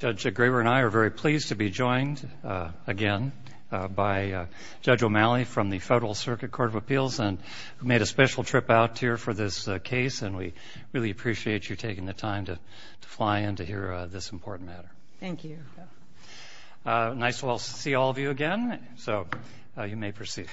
Judge Graber and I are very pleased to be joined again by Judge O'Malley from the Federal Circuit Court of Appeals and who made a special trip out here for this case and we really appreciate you taking the time to fly in to hear this important matter. Thank you. Nice to see all of you again so you may proceed.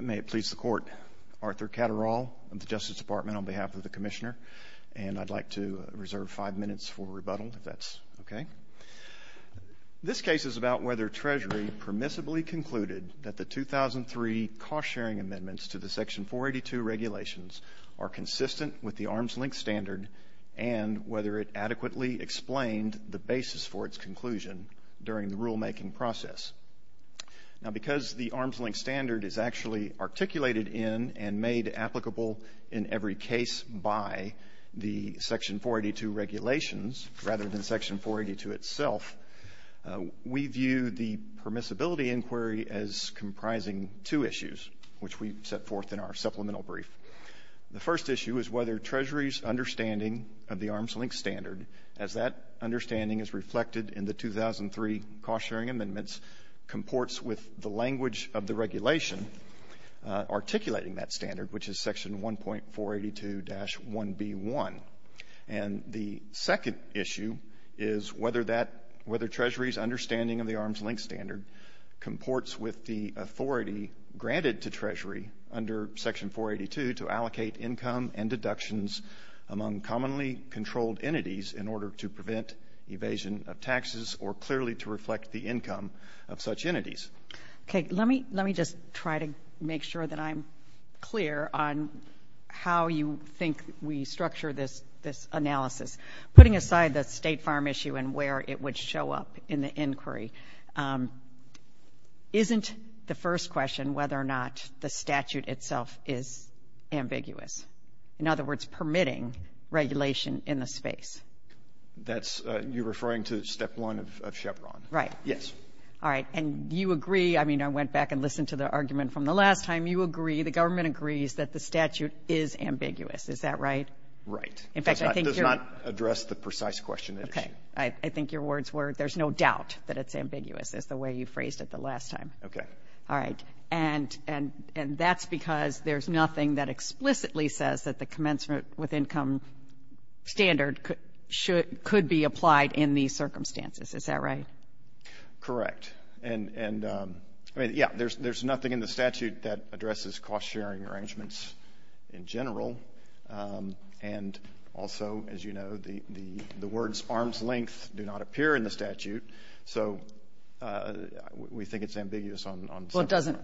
May it please the Court, Arthur Catterall of the Justice Department on behalf of the Commissioner and I'd like to reserve five minutes for rebuttal if that's okay. This case is about whether Treasury permissibly concluded that the 2003 cost-sharing amendments to the Section 482 regulations are consistent with the Arms Link Standard and whether it adequately explained the basis for its conclusion during the rulemaking process. Now because the Arms Link Standard is actually articulated in and made applicable in every case by the Section 482 regulations rather than Section 482 itself, we view the permissibility inquiry as comprising two issues which we set forth in our supplemental brief. The first issue is whether Treasury's understanding of the Arms Link Standard as that understanding is reflected in the 2003 cost-sharing amendments comports with the language of the regulation articulating that standard which is Section 1.482-1B1 and the second issue is whether Treasury's understanding of the Arms Link Standard comports with the authority granted to Treasury under Section 482 to allocate income and deductions among commonly controlled entities in order to prevent evasion of taxes or clearly to reflect the income of such entities. Okay let me let me just try to make sure that I'm clear on how you think we structure this this analysis. Putting aside the State Farm issue and where it would show up in the inquiry, isn't the first question whether or not the statute itself is ambiguous? In other words permitting regulation in the space. That's you referring to step one of Chevron. Right. Yes. All right and you agree I mean I went back and listened to the argument from the last time you agree the government agrees that the statute is ambiguous is that right? Right. In fact I think it does not address the precise question. Okay I think your words were there's no doubt that it's ambiguous as the way you phrased it the last time. Okay. All right and and and that's because there's nothing that explicitly says that the commencement with income standard should could be applied in these circumstances is that right? Correct and and I mean yeah there's there's nothing in the statute that addresses cost-sharing arrangements in general and also as you know the the words arm's length do not appear in the statute so we think it's ambiguous on well it doesn't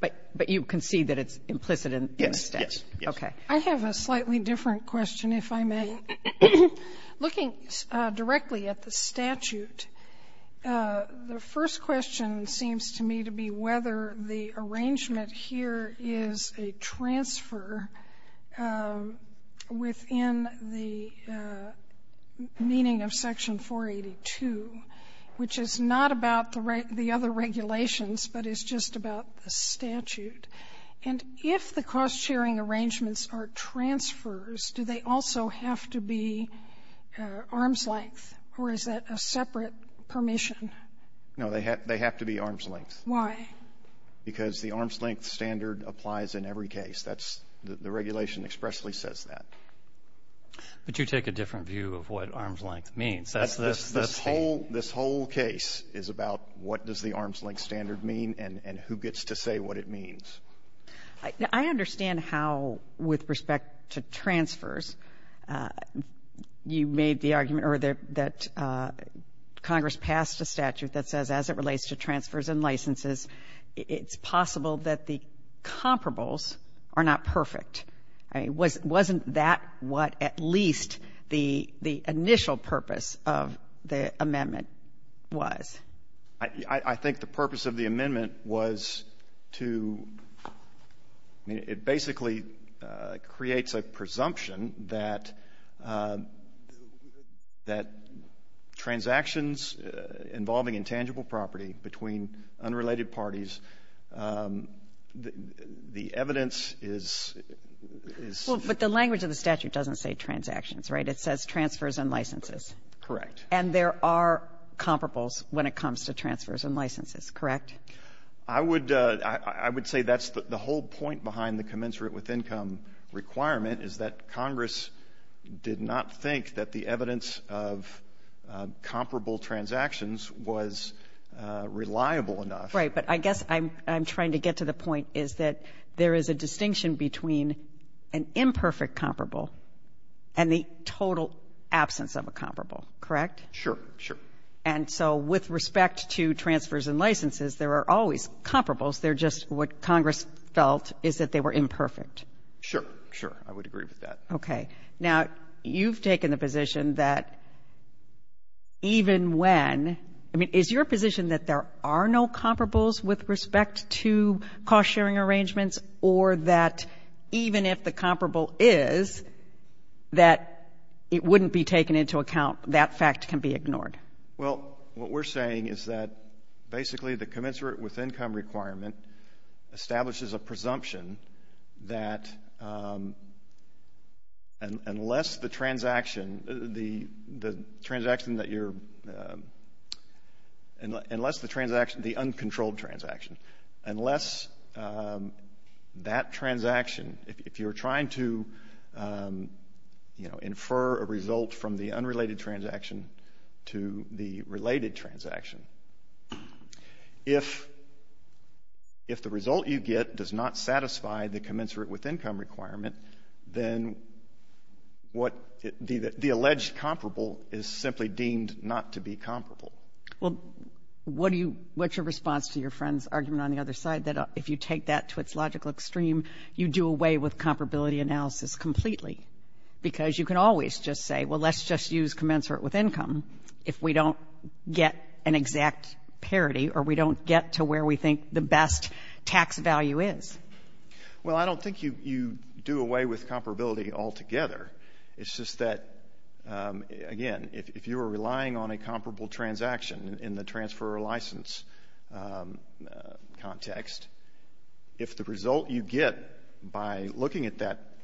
but but you can see that it's implicit in yes okay. I have a slightly different question if I may. Looking directly at the statute the first question seems to me to be whether the arrangement here is a transfer within the meaning of section 482 which is not about the right the other regulations but it's just about the statute and if the cost-sharing arrangements are transfers do they also have to be arm's length or is that a separate permission? No they have they have to be arm's length. Why? Because the regulation expressly says that. But you take a different view of what arm's length means. That's this whole this whole case is about what does the arm's length standard mean and and who gets to say what it means. I understand how with respect to transfers you made the argument or that that Congress passed a statute that says as it relates to transfers and licenses it's possible that the comparables are not perfect. I mean was wasn't that what at least the the initial purpose of the amendment was? I think the purpose of the amendment was to it basically creates a presumption that that transactions involving intangible property between unrelated parties the evidence is... But the language of the statute doesn't say transactions right it says transfers and licenses. Correct. And there are comparables when it comes to transfers and licenses correct? I would I would say that's the whole point behind the commensurate with income requirement is that Congress did not think that the reliable enough. Right but I guess I'm I'm trying to get to the point is that there is a distinction between an imperfect comparable and the total absence of a comparable correct? Sure sure. And so with respect to transfers and licenses there are always comparables they're just what Congress felt is that they were imperfect. Sure sure I would agree with that. Okay now you've taken the position that even when I mean is your position that there are no comparables with respect to cost-sharing arrangements or that even if the comparable is that it wouldn't be taken into account that fact can be ignored? Well what we're saying is that basically the commensurate with income requirement establishes a presumption that unless the transaction the the transaction that you're and unless the transaction the uncontrolled transaction unless that transaction if you're trying to you know infer a result from the if the result you get does not satisfy the commensurate with income requirement then what the alleged comparable is simply deemed not to be comparable. Well what do you what's your response to your friend's argument on the other side that if you take that to its logical extreme you do away with comparability analysis completely because you can always just say well let's just use commensurate with income if we don't get an exact parity or we don't get to where we think the best tax value is. Well I don't think you you do away with comparability altogether it's just that again if you are relying on a comparable transaction in the transfer license context if the result you get by looking at that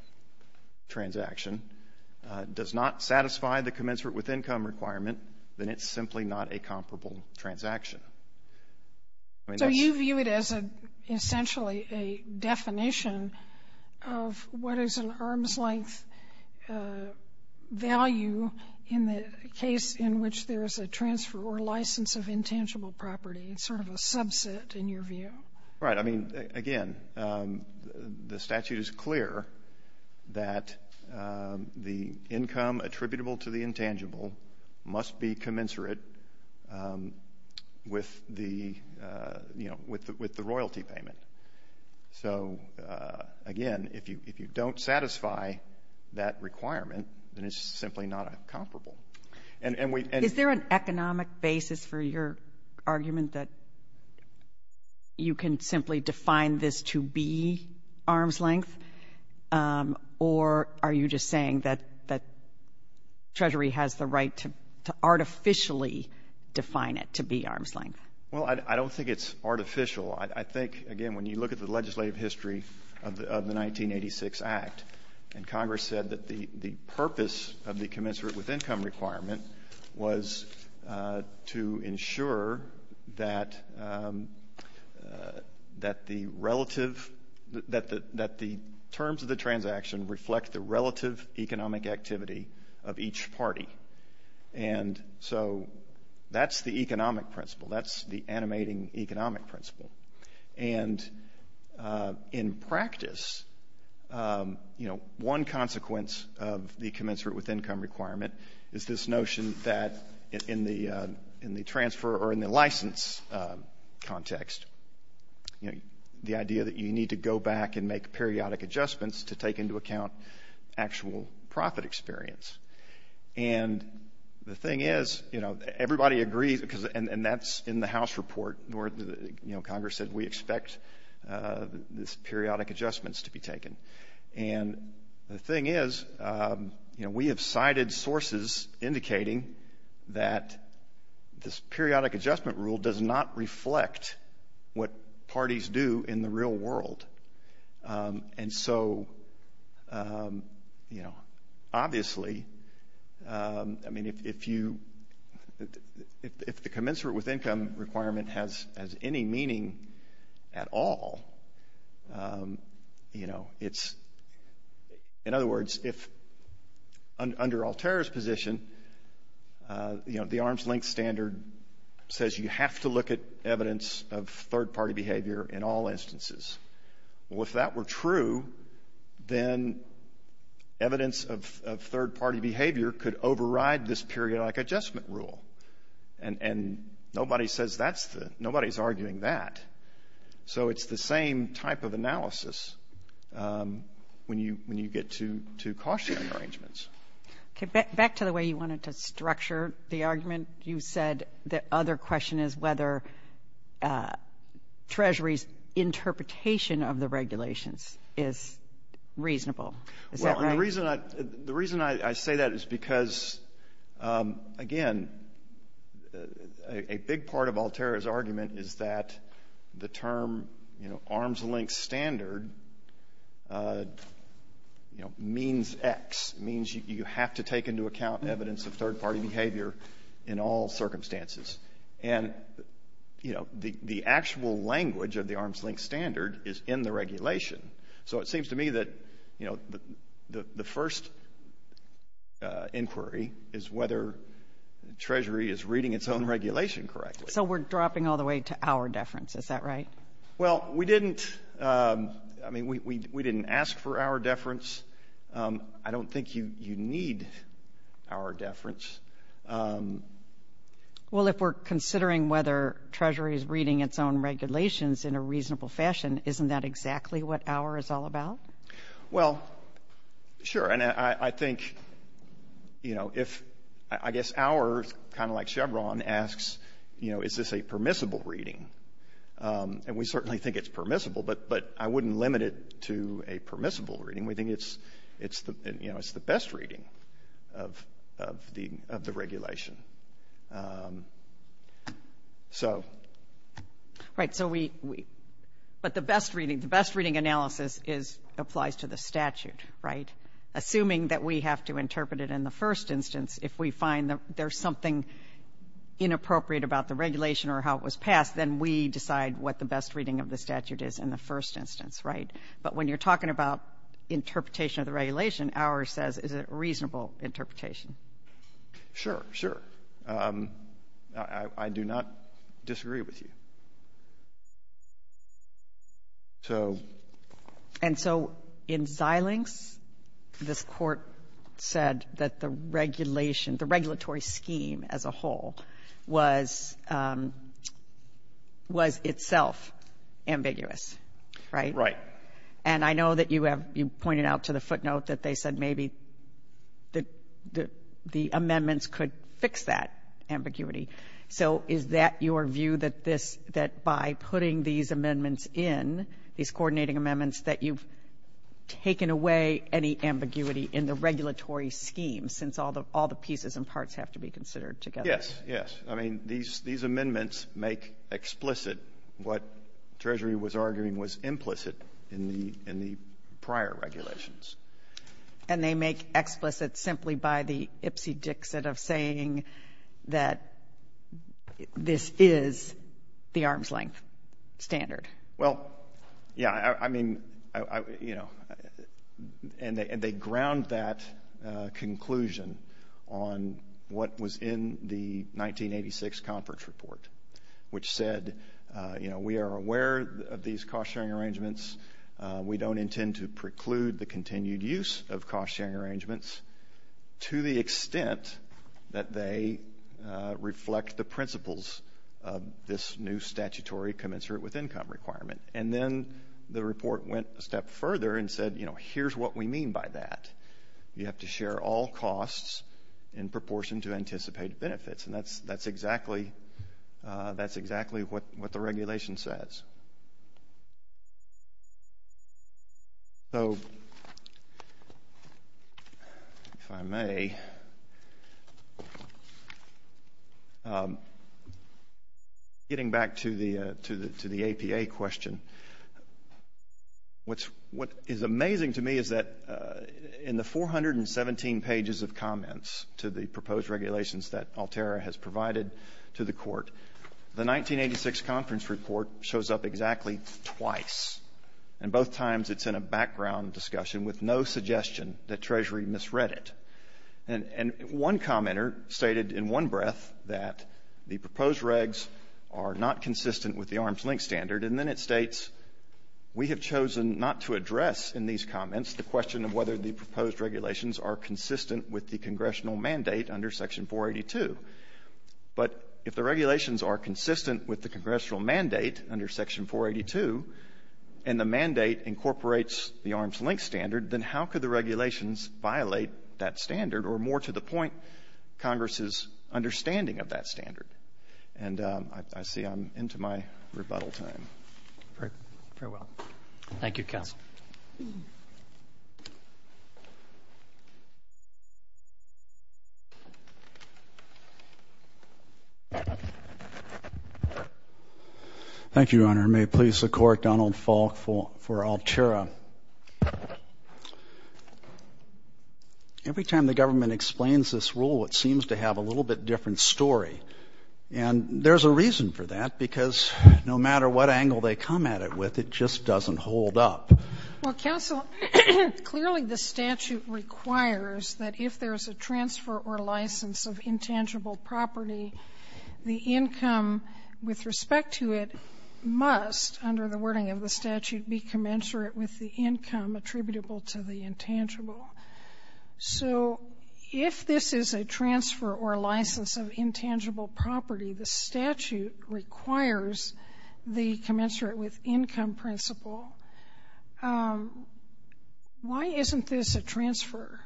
transaction does not satisfy the commensurate with income requirement then it's simply not a comparable transaction. So you view it as a essentially a definition of what is an arm's-length value in the case in which there is a transfer or license of intangible property it's sort of a subset in your view. Right I mean again the statute is clear that the income attributable to the intangible must be commensurate with the you know with the with the royalty payment. So again if you if you don't satisfy that requirement then it's simply not a comparable. Is there an economic basis for your argument that you can simply define this to be arm's-length or are you just saying that that Treasury has the right to artificially define it to be arm's-length? Well I don't think it's artificial I think again when you look at the legislative history of the of the 1986 Act and Congress said that the the purpose of the commensurate with income requirement was to ensure that that the relative that the that the terms of the transaction reflect the relative economic activity of each party and so that's the economic principle that's the animating economic principle and in practice you know one consequence of the commensurate with income requirement is this notion that in the in the transfer or in the license context you know the idea that you need to go back and make a profit experience and the thing is you know everybody agrees because and and that's in the House report where the you know Congress said we expect this periodic adjustments to be taken and the thing is you know we have cited sources indicating that this periodic adjustment rule does not reflect what parties do in the real world and so you know obviously I mean if you if the commensurate with income requirement has any meaning at all you know it's in other words if under Altair's position you know the arm's-length standard says you have to look at evidence of third-party behavior in all instances well if that were true then evidence of third-party behavior could override this periodic adjustment rule and and nobody says that's the nobody's arguing that so it's the same type of analysis when you when you get to to caution arrangements okay back to the way you wanted to structure the argument you said that other question is whether Treasury's interpretation of the regulations is reasonable the reason I the reason I say that is because again a big part of Altair's argument is that the term you know arm's-length standard you know means X means you have to take into account evidence of third-party behavior in all circumstances and you know the the actual language of the arm's-length standard is in the regulation so it seems to me that you know the first inquiry is whether Treasury is reading its own regulation correctly so we're dropping all the way to our deference is that right well we didn't I mean we didn't ask for our deference I don't think you you need our deference well if we're considering whether Treasury is reading its own regulations in a reasonable fashion isn't that exactly what our is all about well sure and I think you know if I guess ours kind of like Chevron asks you know is this a permissible reading and we certainly think it's permissible but but I wouldn't limit it to a permissible reading we think it's it's the you know it's the best reading of the of the regulation so right so we but the best reading the best reading analysis is applies to the statute right assuming that we have to interpret it in the first instance if we find that there's something inappropriate about the regulation or how it was passed then we decide what the best reading of the statute is in the first instance right but when you're talking about interpretation of the regulation our says is it reasonable interpretation sure sure I do not disagree with you so and so in Xilinx this court said that the regulation the regulatory scheme as whole was was itself ambiguous right right and I know that you have you pointed out to the footnote that they said maybe that the amendments could fix that ambiguity so is that your view that this that by putting these amendments in these coordinating amendments that you've taken away any ambiguity in the regulatory scheme since all the all the pieces and parts have to be considered together yes yes I mean these these amendments make explicit what Treasury was arguing was implicit in the in the prior regulations and they make explicit simply by the ipsy-dixit of saying that this is the arm's-length standard well yeah I mean you know and they and they ground that conclusion on what was in the 1986 conference report which said you know we are aware of these cost-sharing arrangements we don't intend to preclude the continued use of cost-sharing arrangements to the extent that they reflect the principles of this new statutory commensurate with income requirement and then the report went a step further and said you know here's what we mean by that you have to share all costs in proportion to anticipated benefits and that's that's exactly that's exactly what what the regulation says so if I may getting back to the to the to the APA question what's what is amazing to me is that in the 417 pages of comments to the proposed regulations that Altera has provided to the court the 1986 conference report shows up exactly twice and both times it's in a background discussion with no suggestion that Treasury misread it and and one commenter stated in one breath that the proposed regs are not consistent with the arm's-length standard and then it comments the question of whether the proposed regulations are consistent with the congressional mandate under section 482 but if the regulations are consistent with the congressional mandate under section 482 and the mandate incorporates the arm's-length standard then how could the regulations violate that standard or more to the point Congress's understanding of that Thank you, Your Honor. May it please the court, Donald Falk for Altera. Every time the government explains this rule it seems to have a little bit different story and there's a reason for that because no matter what angle they come at it with it just doesn't hold up. Well counsel, clearly the statute requires that if there's a transfer or license of intangible property the income with respect to it must under the wording of the statute be commensurate with the income attributable to the intangible so if this is a transfer or license of income principle why isn't this a transfer?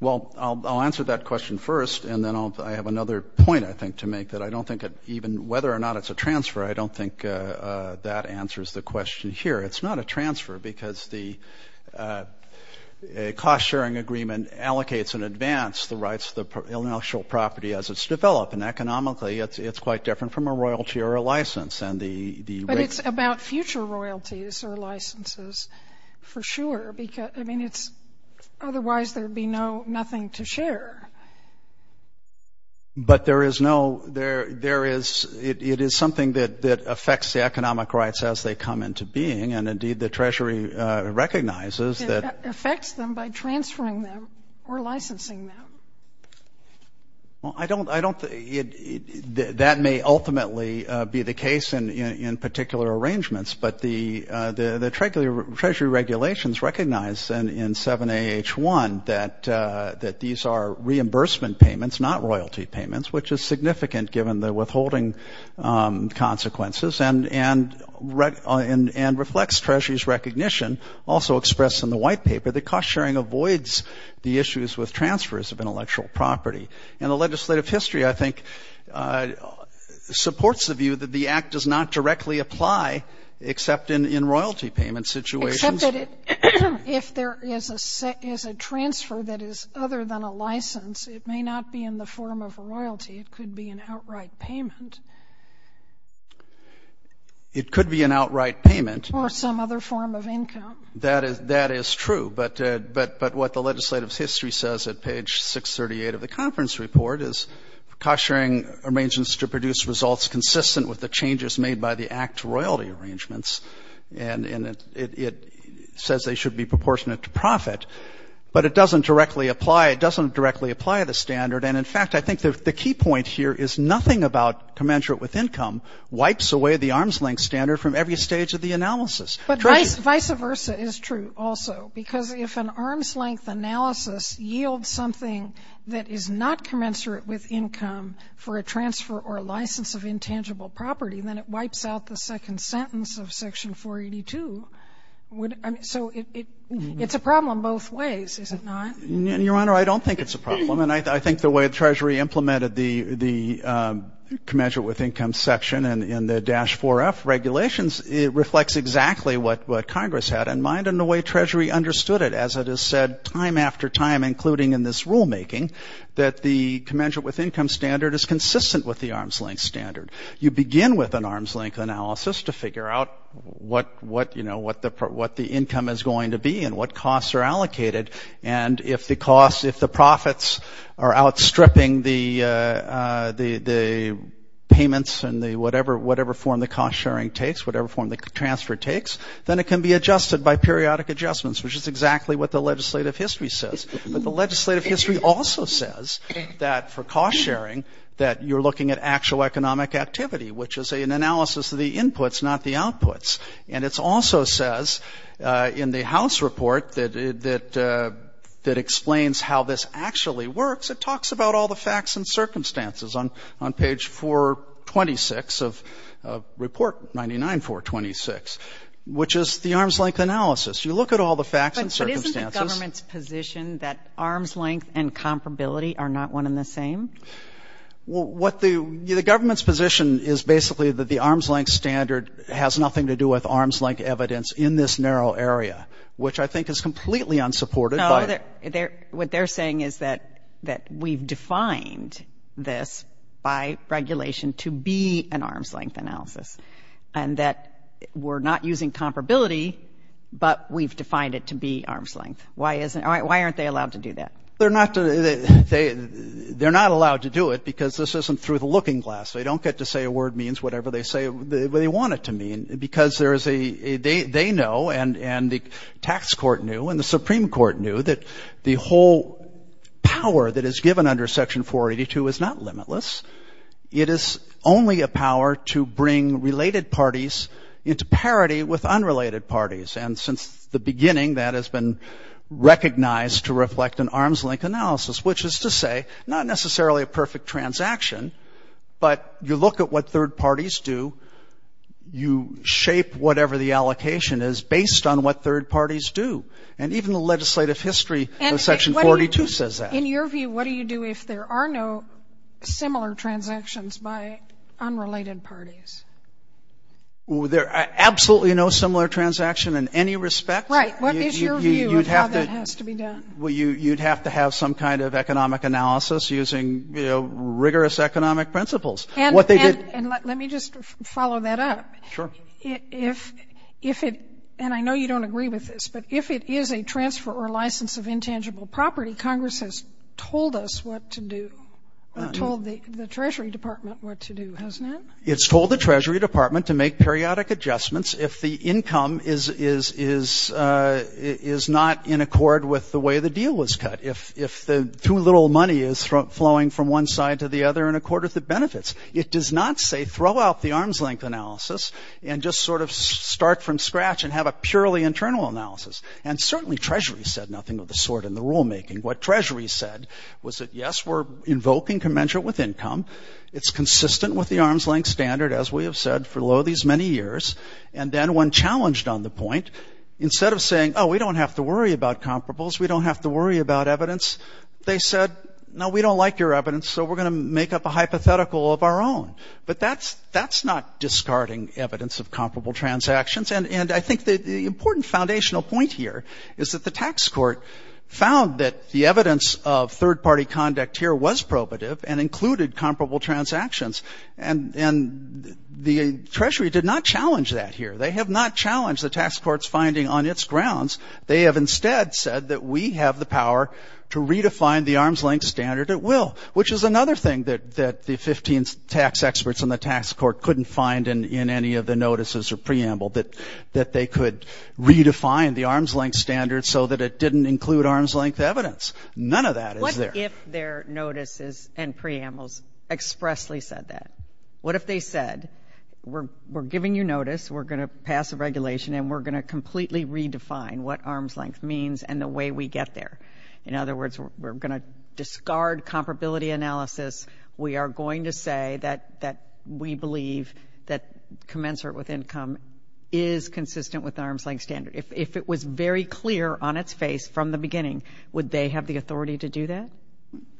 Well I'll answer that question first and then I'll I have another point I think to make that I don't think it even whether or not it's a transfer I don't think that answers the question here it's not a transfer because the cost-sharing agreement allocates in advance the rights of the intellectual property as it's developed and economically it's quite different from a royalty or a license and the But it's about future royalties or licenses for sure because I mean it's otherwise there'd be no nothing to share. But there is no there there is it is something that that affects the economic rights as they come into being and indeed the Treasury recognizes that. It affects them by transferring them or licensing them. Well I don't I don't think that may ultimately be the case in particular arrangements but the the Treasury regulations recognize and in 7 AH1 that that these are reimbursement payments not royalty payments which is significant given the withholding consequences and and and reflects Treasury's recognition also expressed in the white paper the cost-sharing avoids the issues with transfers of intellectual property and the legislative history I think supports the view that the act does not directly apply except in in royalty payment situations. If there is a set is a transfer that is other than a license it may not be in the form of a royalty it could be an outright payment. It could be an outright payment. Or some other form of income. That is that is true but but but what the legislative history says at page 638 of the conference report is cost-sharing arrangements to produce results consistent with the changes made by the act royalty arrangements and and it says they should be proportionate to profit but it doesn't directly apply it doesn't directly apply the standard and in fact I think the key point here is nothing about commensurate with income wipes away the arm's length standard from every stage of the analysis. But vice versa is true also because if an arm's length analysis yields something that is not commensurate with income for a transfer or a license of intangible property then it wipes out the second sentence of section 482. So it's a problem both ways is it not? Your Honor I don't think it's a problem and I think the way the Treasury implemented the the commensurate with income section and in the dash 4f regulations it reflects exactly what what Congress had in mind and the way Treasury understood it as it is said time after time including in this rulemaking that the commensurate with income standard is consistent with the arm's length standard. You begin with an arm's length analysis to figure out what what you know what the what the income is going to be and what costs are allocated and if the cost if the profits are outstripping the the payments and the whatever whatever form the cost-sharing takes whatever form the transfer takes then it can be adjusted by periodic adjustments which is exactly what the legislative history says but the legislative history also says that for cost-sharing that you're looking at actual economic activity which is an analysis of the inputs not the outputs and it's also says in the house report that that that explains how this actually works it talks about all the facts and circumstances on on page 426 of report 99 426 which is the arms length analysis you look at all the facts and circumstances. But isn't the government's position that arm's length and comparability are not one in the same? Well what the government's position is basically that the arm's length standard has nothing to do with arm's length evidence in this narrow area which I think is completely unsupported. No what they're saying is that that we've defined this by regulation to be an we're not using comparability but we've defined it to be arm's length. Why isn't why aren't they allowed to do that? They're not they they're not allowed to do it because this isn't through the looking-glass they don't get to say a word means whatever they say they want it to mean because there is a they they know and and the tax court knew and the Supreme Court knew that the whole power that is given under section 482 is not limitless it is only a power to bring related parties into parity with unrelated parties and since the beginning that has been recognized to reflect an arm's length analysis which is to say not necessarily a perfect transaction but you look at what third parties do you shape whatever the allocation is based on what third parties do and even the legislative history of section 42 says that. In your view what do you do if there are no similar transactions by unrelated parties? There are absolutely no similar transaction in any respect. Right what is your view of how that has to be done? Well you you'd have to have some kind of economic analysis using you know rigorous economic principles. And what they did and let me just follow that up. Sure. If if it and I know you don't agree with this but if it is a transfer or license of intangible property Congress has told us what to do told the Treasury Department what to do hasn't it? It's told the Treasury Department to make periodic adjustments if the income is is is is not in accord with the way the deal was cut if if the too little money is flowing from one side to the other in accord with the benefits. It does not say throw out the arm's length analysis and just sort of start from scratch and have a purely internal analysis and certainly Treasury said nothing of the sort in the rulemaking. What Treasury said was that yes we're invoking commensurate with income. It's consistent with the arm's length standard as we have said for lo these many years. And then when challenged on the point instead of saying oh we don't have to worry about comparables we don't have to worry about evidence. They said no we don't like your evidence so we're gonna make up a hypothetical of our own. But that's that's not discarding evidence of comparable transactions and and I think the important foundational point here is that the tax court found that the evidence of third-party conduct here was probative and included comparable transactions and and the Treasury did not challenge that here. They have not challenged the tax courts finding on its grounds. They have instead said that we have the power to redefine the arm's length standard at will. Which is another thing that that the 15 tax experts in the tax court couldn't find in in any of the notices or preamble that that they could redefine the arm's length standard so that it didn't include arm's length evidence. None of that is there. What if their notices and preambles expressly said that? What if they said we're we're giving you notice we're gonna pass a regulation and we're gonna completely redefine what arm's length means and the way we get there. In other words we're gonna discard comparability analysis. We are going to say that that we believe that commensurate with income is consistent with arm's length standard. If it was very clear on its face from the beginning would they have the authority to do that?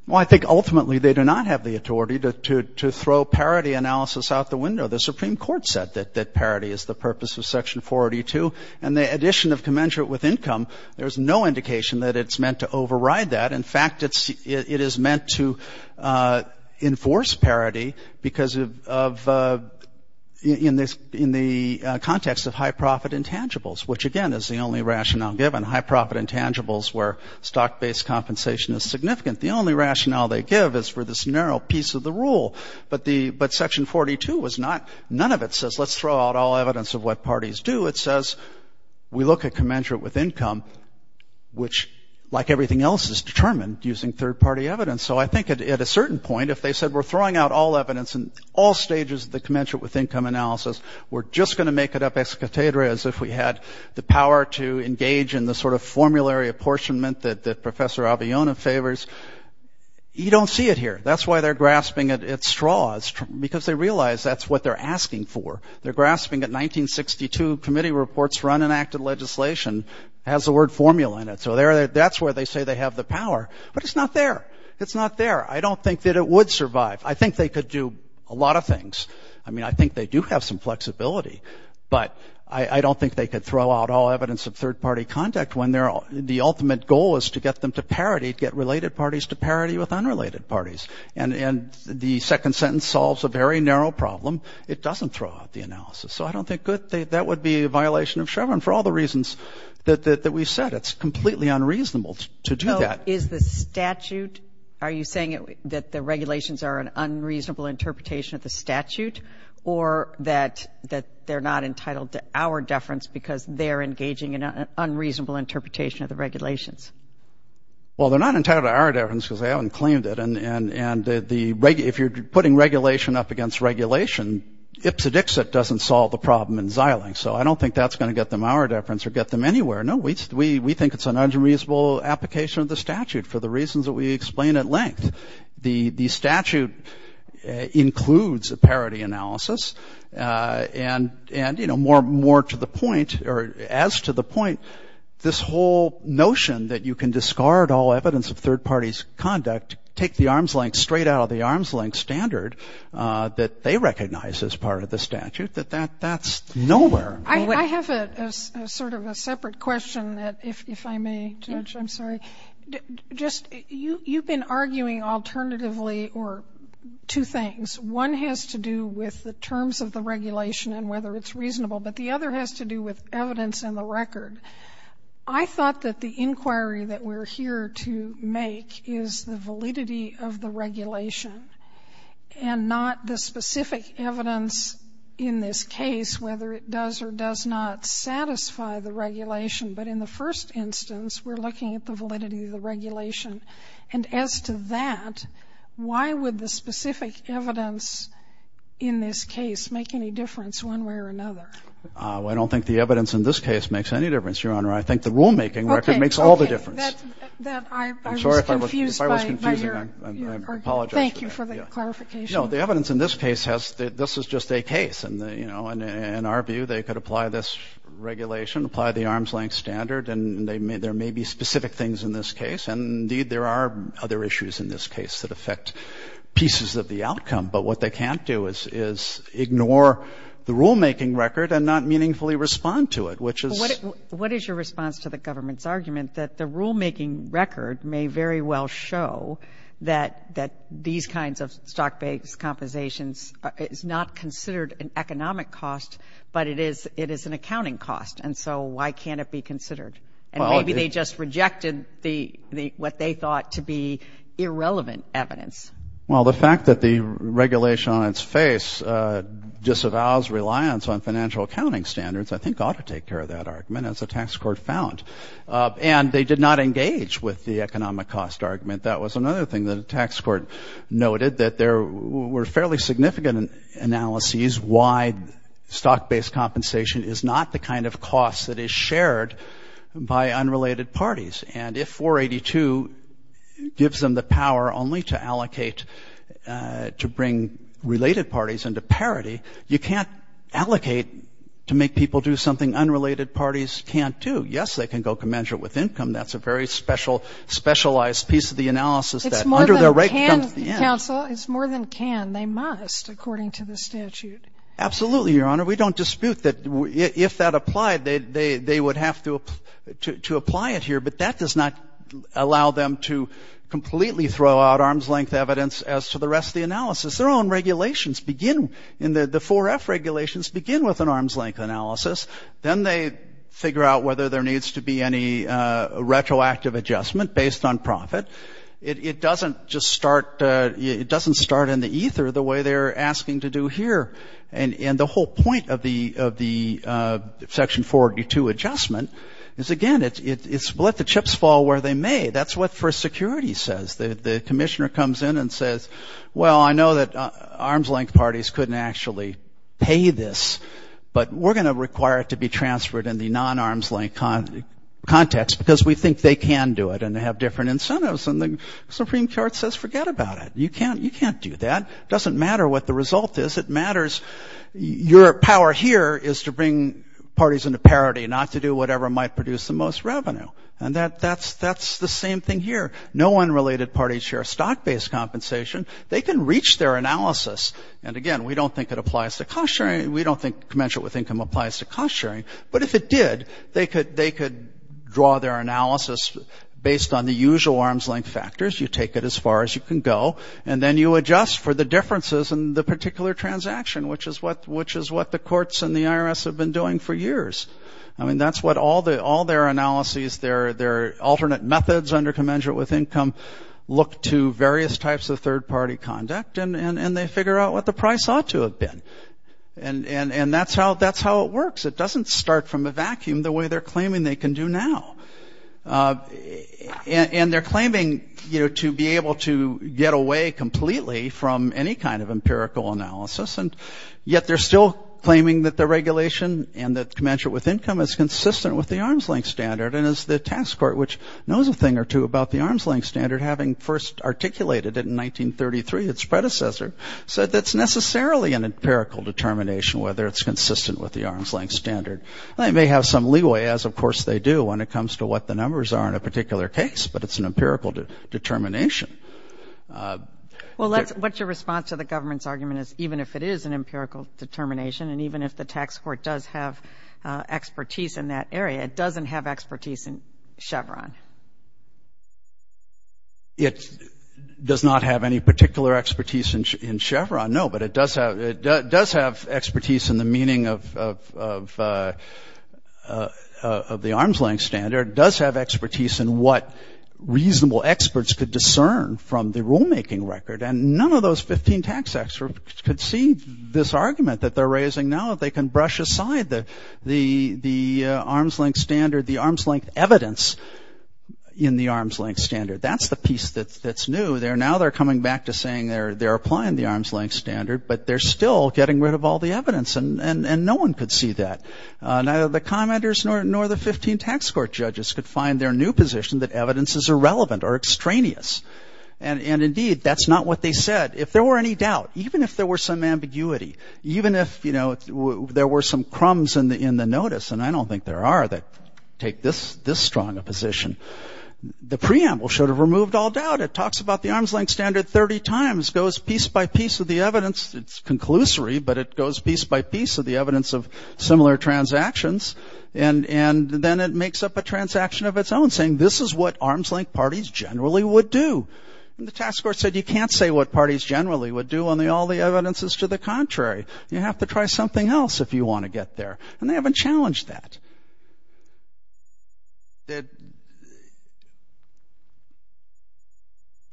Well I think ultimately they do not have the authority to throw parity analysis out the window. The Supreme Court said that that parity is the purpose of section 42 and the addition of commensurate with income there's no indication that it's meant to override that. In fact it's it is meant to enforce parity because of in this in the context of high-profit intangibles which again is the only rationale given. High-profit intangibles where stock-based compensation is significant. The only rationale they give is for this narrow piece of the rule but the but section 42 was not none of it says let's throw out all evidence of what parties do. It says we look at commensurate with income which like everything else is determined using third-party evidence. So I think at a certain point if they said we're throwing out all evidence in all stages of the commensurate with income analysis we're just going to make it up ex cathedra as if we had the power to engage in the sort of formulary apportionment that that Professor Aviona favors. You don't see it here. That's why they're grasping at its straws because they realize that's what they're asking for. They're grasping at 1962 committee reports run enacted legislation has the word formula in it. So there that's where they say they have the power but it's not there. It's not there. I don't think that it would survive. I think they could do a lot of things. I mean I think they do have some flexibility but I don't think they could throw out all evidence of third-party contact when they're all the ultimate goal is to get them to parity get related parties to parity with unrelated parties and and the second sentence solves a very narrow problem. It doesn't throw out the analysis. So I don't think good that would be a violation of Chevron for all the reasons that we said. It's a statute. Are you saying that the regulations are an unreasonable interpretation of the statute or that that they're not entitled to our deference because they're engaging in an unreasonable interpretation of the regulations? Well they're not entitled to our deference because they haven't claimed it and and and the if you're putting regulation up against regulation Ipsodixit doesn't solve the problem in Xilinx. So I don't think that's going to get them our deference or get them anywhere. No we think it's an unreasonable application of the statute for the reasons that we explain at length. The the statute includes a parity analysis and and you know more more to the point or as to the point this whole notion that you can discard all evidence of third parties conduct take the arm's length straight out of the arm's length standard that they recognize as part of the statute that that's nowhere. I have a sort of a separate question that if I may judge I'm sorry. Just you you've been arguing alternatively or two things one has to do with the terms of the regulation and whether it's reasonable but the other has to do with evidence in the record. I thought that the inquiry that we're here to make is the validity of the regulation and not the specific evidence in this case whether it does or does not satisfy the regulation. But in the first instance we're looking at the validity of the regulation and as to that why would the specific evidence in this case make any difference one way or another. I don't think the evidence in this case makes any difference Your Honor. I think the evidence in this case has that this is just a case and you know and in our view they could apply this regulation apply the arm's length standard and they may there may be specific things in this case and indeed there are other issues in this case that affect pieces of the outcome but what they can't do is is ignore the rulemaking record and not meaningfully respond to it which is. What is your response to the government's argument that the rulemaking record may very well show that that these kinds of stock-based compensations is not considered an economic cost but it is it is an accounting cost and so why can't it be considered and maybe they just rejected the the what they thought to be irrelevant evidence. Well the fact that the regulation on its face disavows reliance on financial accounting standards I think ought to take care of that argument as a tax court found and they did not engage with the economic cost argument that was another thing that a tax court noted that there were fairly significant analyses why stock-based compensation is not the kind of cost that is shared by unrelated parties and if 482 gives them the power only to allocate to bring related parties into parity you can't allocate to make people do something unrelated parties can't do. Yes they can go measure it with income that's a very special specialized piece of the analysis. It's more than can counsel it's more than can they must according to the statute. Absolutely your honor we don't dispute that if that applied they they would have to apply it here but that does not allow them to completely throw out arm's-length evidence as to the rest of the analysis their own regulations begin in the the 4F regulations begin with an arm's-length analysis then they figure out whether there needs to be any retroactive adjustment based on profit it doesn't just start it doesn't start in the ether the way they're asking to do here and in the whole point of the of the section 482 adjustment is again it's let the chips fall where they may that's what first security says the the Commissioner comes in and says well I know that arm's-length parties couldn't actually pay this but we're gonna require it to be transferred in the non arm's-length context because we think they can do it and they have different incentives and the Supreme Court says forget about it you can't you can't do that doesn't matter what the result is it matters your power here is to bring parties into parity not to do whatever might produce the most revenue and that that's that's the same thing here no one related parties share stock-based compensation they can reach their analysis and again we don't think it applies to cost sharing we don't think commensurate with income applies to cost sharing but if it did they could they could draw their analysis based on the usual arm's-length factors you take it as far as you can go and then you adjust for the differences in the particular transaction which is what which is what the courts and the IRS have been doing for years I mean that's what all the all their analyses their their alternate methods under commensurate with income look to various types of third-party conduct and and and they figure out what the price ought to have been and and and that's how that's how it works it doesn't start from a vacuum the way they're claiming they can do now and they're claiming you know to be able to get away completely from any kind of empirical analysis and yet they're still claiming that the regulation and that commensurate with income is consistent with the arm's-length standard and as the tax court which knows a thing or two about the arm's length standard having first articulated it in 1933 its predecessor said that's necessarily an empirical determination whether it's consistent with the arm's length standard I may have some leeway as of course they do when it comes to what the numbers are in a particular case but it's an empirical determination well that's what your response to the government's argument is even if it is an empirical determination and even if the tax court does have expertise in that area it doesn't have expertise in Chevron it does not have any particular expertise in Chevron no but it does have it does have expertise in the meaning of the arm's length standard does have expertise in what reasonable experts could discern from the rulemaking record and none of those 15 tax experts could see this argument that they're raising now if they can brush aside that the the arm's length standard the arm's length evidence in the arm's length standard that's the piece that's that's new there now they're coming back to saying they're they're applying the arm's length standard but they're still getting rid of all the evidence and and and no one could see that neither the commenters nor nor the 15 tax court judges could find their new position that evidence is irrelevant or extraneous and and indeed that's not what they said if there were any doubt even if there were some ambiguity even if you know there were some crumbs in the in the notice and I don't think there are that take this this strong a position the preamble should have removed all doubt it talks about the arm's length standard 30 times goes piece by piece of the evidence it's conclusory but it goes piece by piece of the evidence of similar transactions and and then it makes up a transaction of its own saying this is what arm's length parties generally would do the tax court said you can't say what parties generally would do on the all the evidence is to the contrary you have to try something else if you want to get there and they haven't challenged that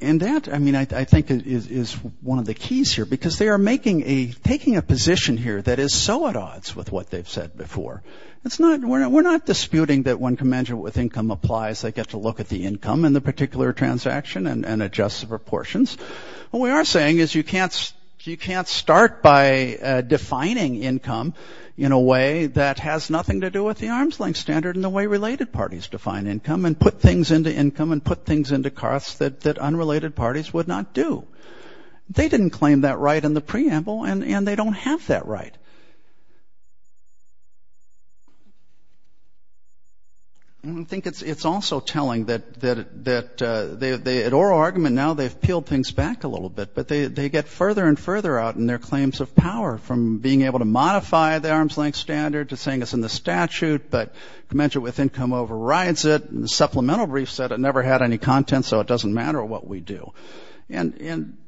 and that I mean I think is one of the keys here because they are making a taking a position here that is so at odds with what they've said before it's not we're not disputing that one commensurate with income applies they get to look at the income in the particular transaction and adjust the proportions what we are saying is you can't you can't start by defining income in a way that has nothing to do with the arm's length standard in the way related parties define income and put things into income and put things into costs that that unrelated parties would not do they didn't claim that right in the preamble and and they don't have that right I think it's it's also telling that that they at oral argument now they've peeled things back a little bit but they get further and further out in their claims of power from being able to modify the arm's length standard to saying it's in the statute but commensurate with income overrides it the supplemental brief said it never had any content so it doesn't matter what we do and in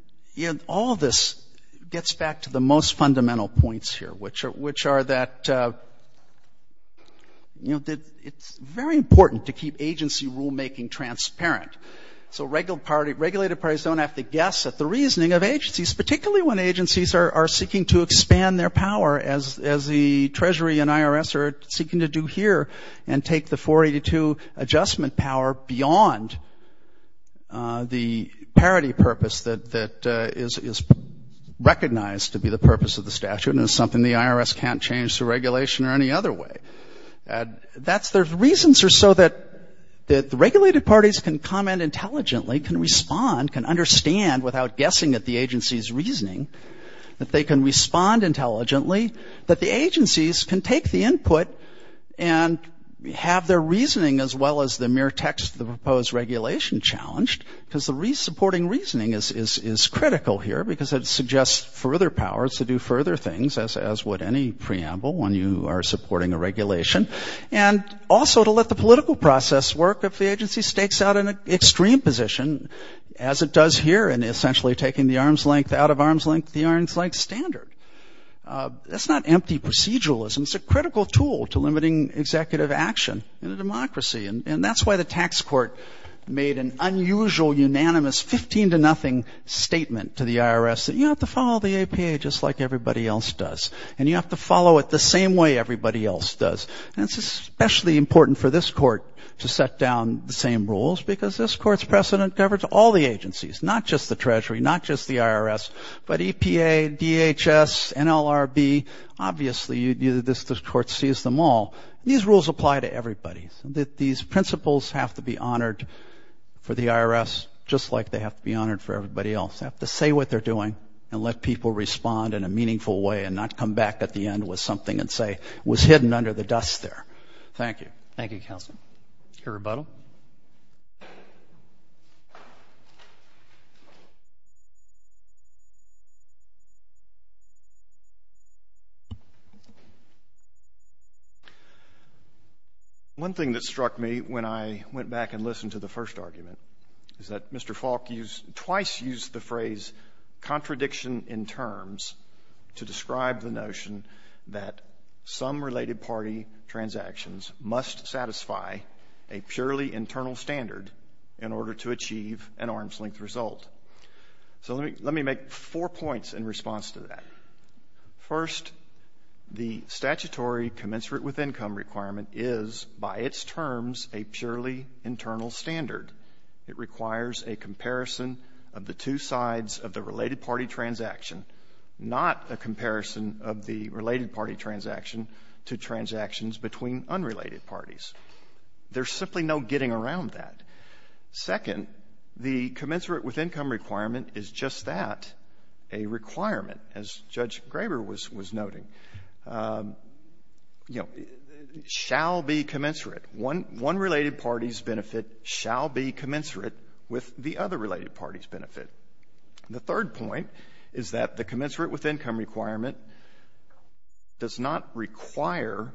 all this gets back to the most fundamental points here which are which are that you know that it's very important to keep agency rulemaking transparent so regular party regulated parties don't have to guess at the reasoning of agencies particularly when agencies are seeking to expand their power as as the Treasury and IRS are seeking to do here and take the 482 adjustment power beyond the parity purpose that that is recognized to be the purpose of the statute and it's something the IRS can't change the regulation or any other way and that's there's reasons are so that that the regulated parties can comment intelligently can respond can understand without guessing at the agency's reasoning that they can respond intelligently that the agencies can take the input and have their reasoning as well as the mere text of the proposed regulation challenged because the resupporting reasoning is is is critical here because it suggests further powers to do further things as as would any preamble when you are supporting a regulation and also to let the political process work if the agency stakes out an extreme position as it does here and essentially taking the arm's length out of arm's length the arms like standard that's not empty proceduralism it's a critical tool to limiting executive action in a democracy and that's why the tax court made an unusual unanimous 15 to nothing statement to the IRS that you have to follow the APA just like everybody else does and you have to follow it the same way everybody else does and it's especially important for this court to set down the same rules because this court's precedent covers all the agencies not just the Treasury not just the IRS but EPA DHS and LRB obviously you do this this court sees them all these rules apply to everybody's that these principles have to be honored for the IRS just like they have to be honored for everybody else have to say what they're doing and let people respond in a meaningful way and not come back at the end with something and say was hidden under the dust there thank you thank you counsel your rebuttal one thing that struck me when I went back and listened to the first argument is that mr. Falk used twice used the phrase contradiction in terms to describe the notion that some related party transactions must satisfy a purely internal standard in order to achieve an arm's-length result so let me make four points in response to that first the statutory commensurate with income requirement is by its terms a purely internal standard it requires a comparison of the two sides of the related party transaction not a comparison of the related party transaction to transactions between unrelated parties there's simply no getting around that second the commensurate with income requirement is just that a requirement as judge Graber was was noting you know shall be commensurate one one related parties benefit shall be commensurate with the other related parties benefit the third point is that the commensurate with income requirement does not require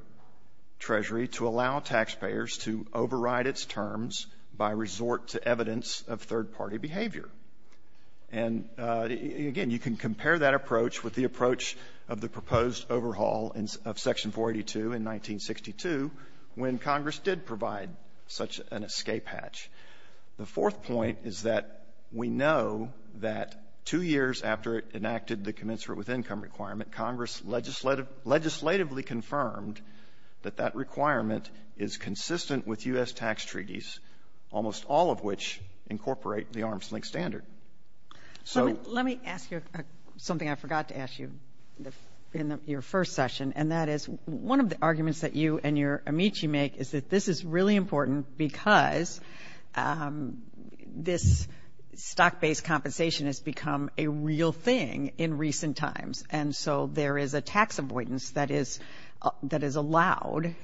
Treasury to allow taxpayers to override its terms by resort to evidence of third-party behavior and again you can compare that approach with the approach of the proposed overhaul and of section 482 in 1962 when Congress did provide such an escape hatch the fourth point is that we know that two years after it enacted the commensurate with income requirement Congress legislative legislatively confirmed that that requirement is consistent with u.s. tax treaties almost all of which incorporate the arm's-length standard so let me ask you something I forgot to ask you in your first session and that is one of the arguments that you and your amici make is that this is really important because this stock-based compensation has become a real thing in recent times and so there is a tax avoidance that is that is allowed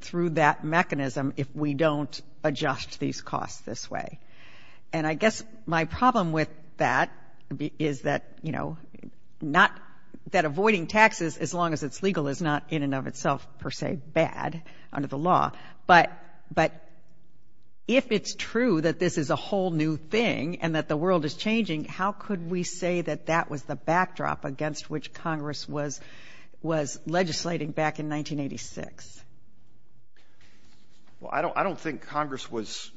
through that mechanism if we don't adjust these costs this way and I guess my problem with that is that you know not that avoiding taxes as long as it's legal is not in and of itself per se bad under the law but but if it's true that this is a whole new thing and that the world is changing how could we say that that was the backdrop against which Congress was was legislating back in 1986 well I don't I don't think Congress was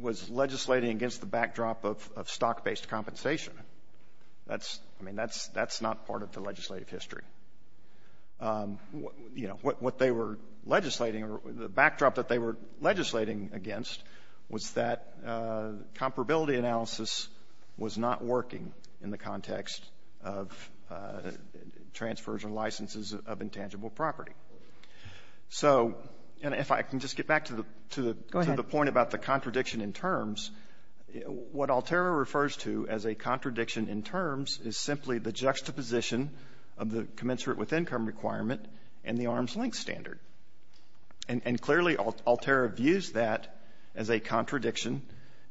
was legislating against the backdrop of stock-based compensation that's I mean that's that's not part of the legislative history you know what they were legislating or the backdrop that they were legislating against was that comparability analysis was not working in the context of transfers and licenses of intangible property so and if I can just get back to the point about the contradiction in terms what Alterra refers to as a contradiction in terms is simply the juxtaposition of the commensurate with income requirement and the arm's-length standard and and clearly Alterra views that as a contradiction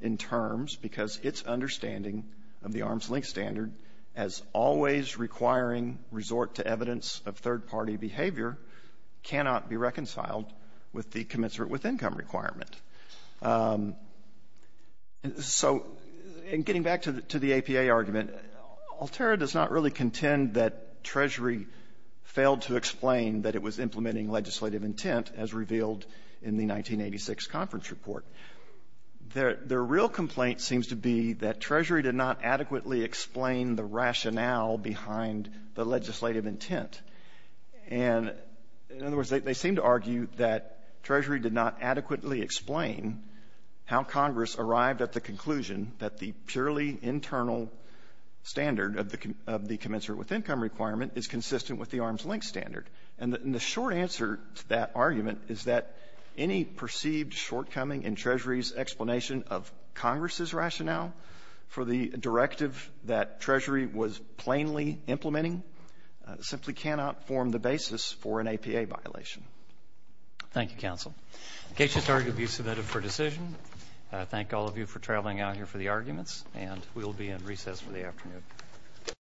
in terms because its understanding of the arm's-length standard as always requiring resort to evidence of third-party behavior cannot be reconciled with the commensurate with income requirement so in getting back to the to the APA argument Alterra does not really contend that Treasury failed to was implementing legislative intent as revealed in the 1986 conference report their their real complaint seems to be that Treasury did not adequately explain the rationale behind the legislative intent and in other words they seem to argue that Treasury did not adequately explain how Congress arrived at the conclusion that the purely internal standard of the commensurate with short answer to that argument is that any perceived shortcoming in Treasury's explanation of Congress's rationale for the directive that Treasury was plainly implementing simply cannot form the basis for an APA violation. Thank you counsel. The case is argued to be submitted for decision. I thank all of you for traveling out here for the arguments and we will be in recess for the afternoon.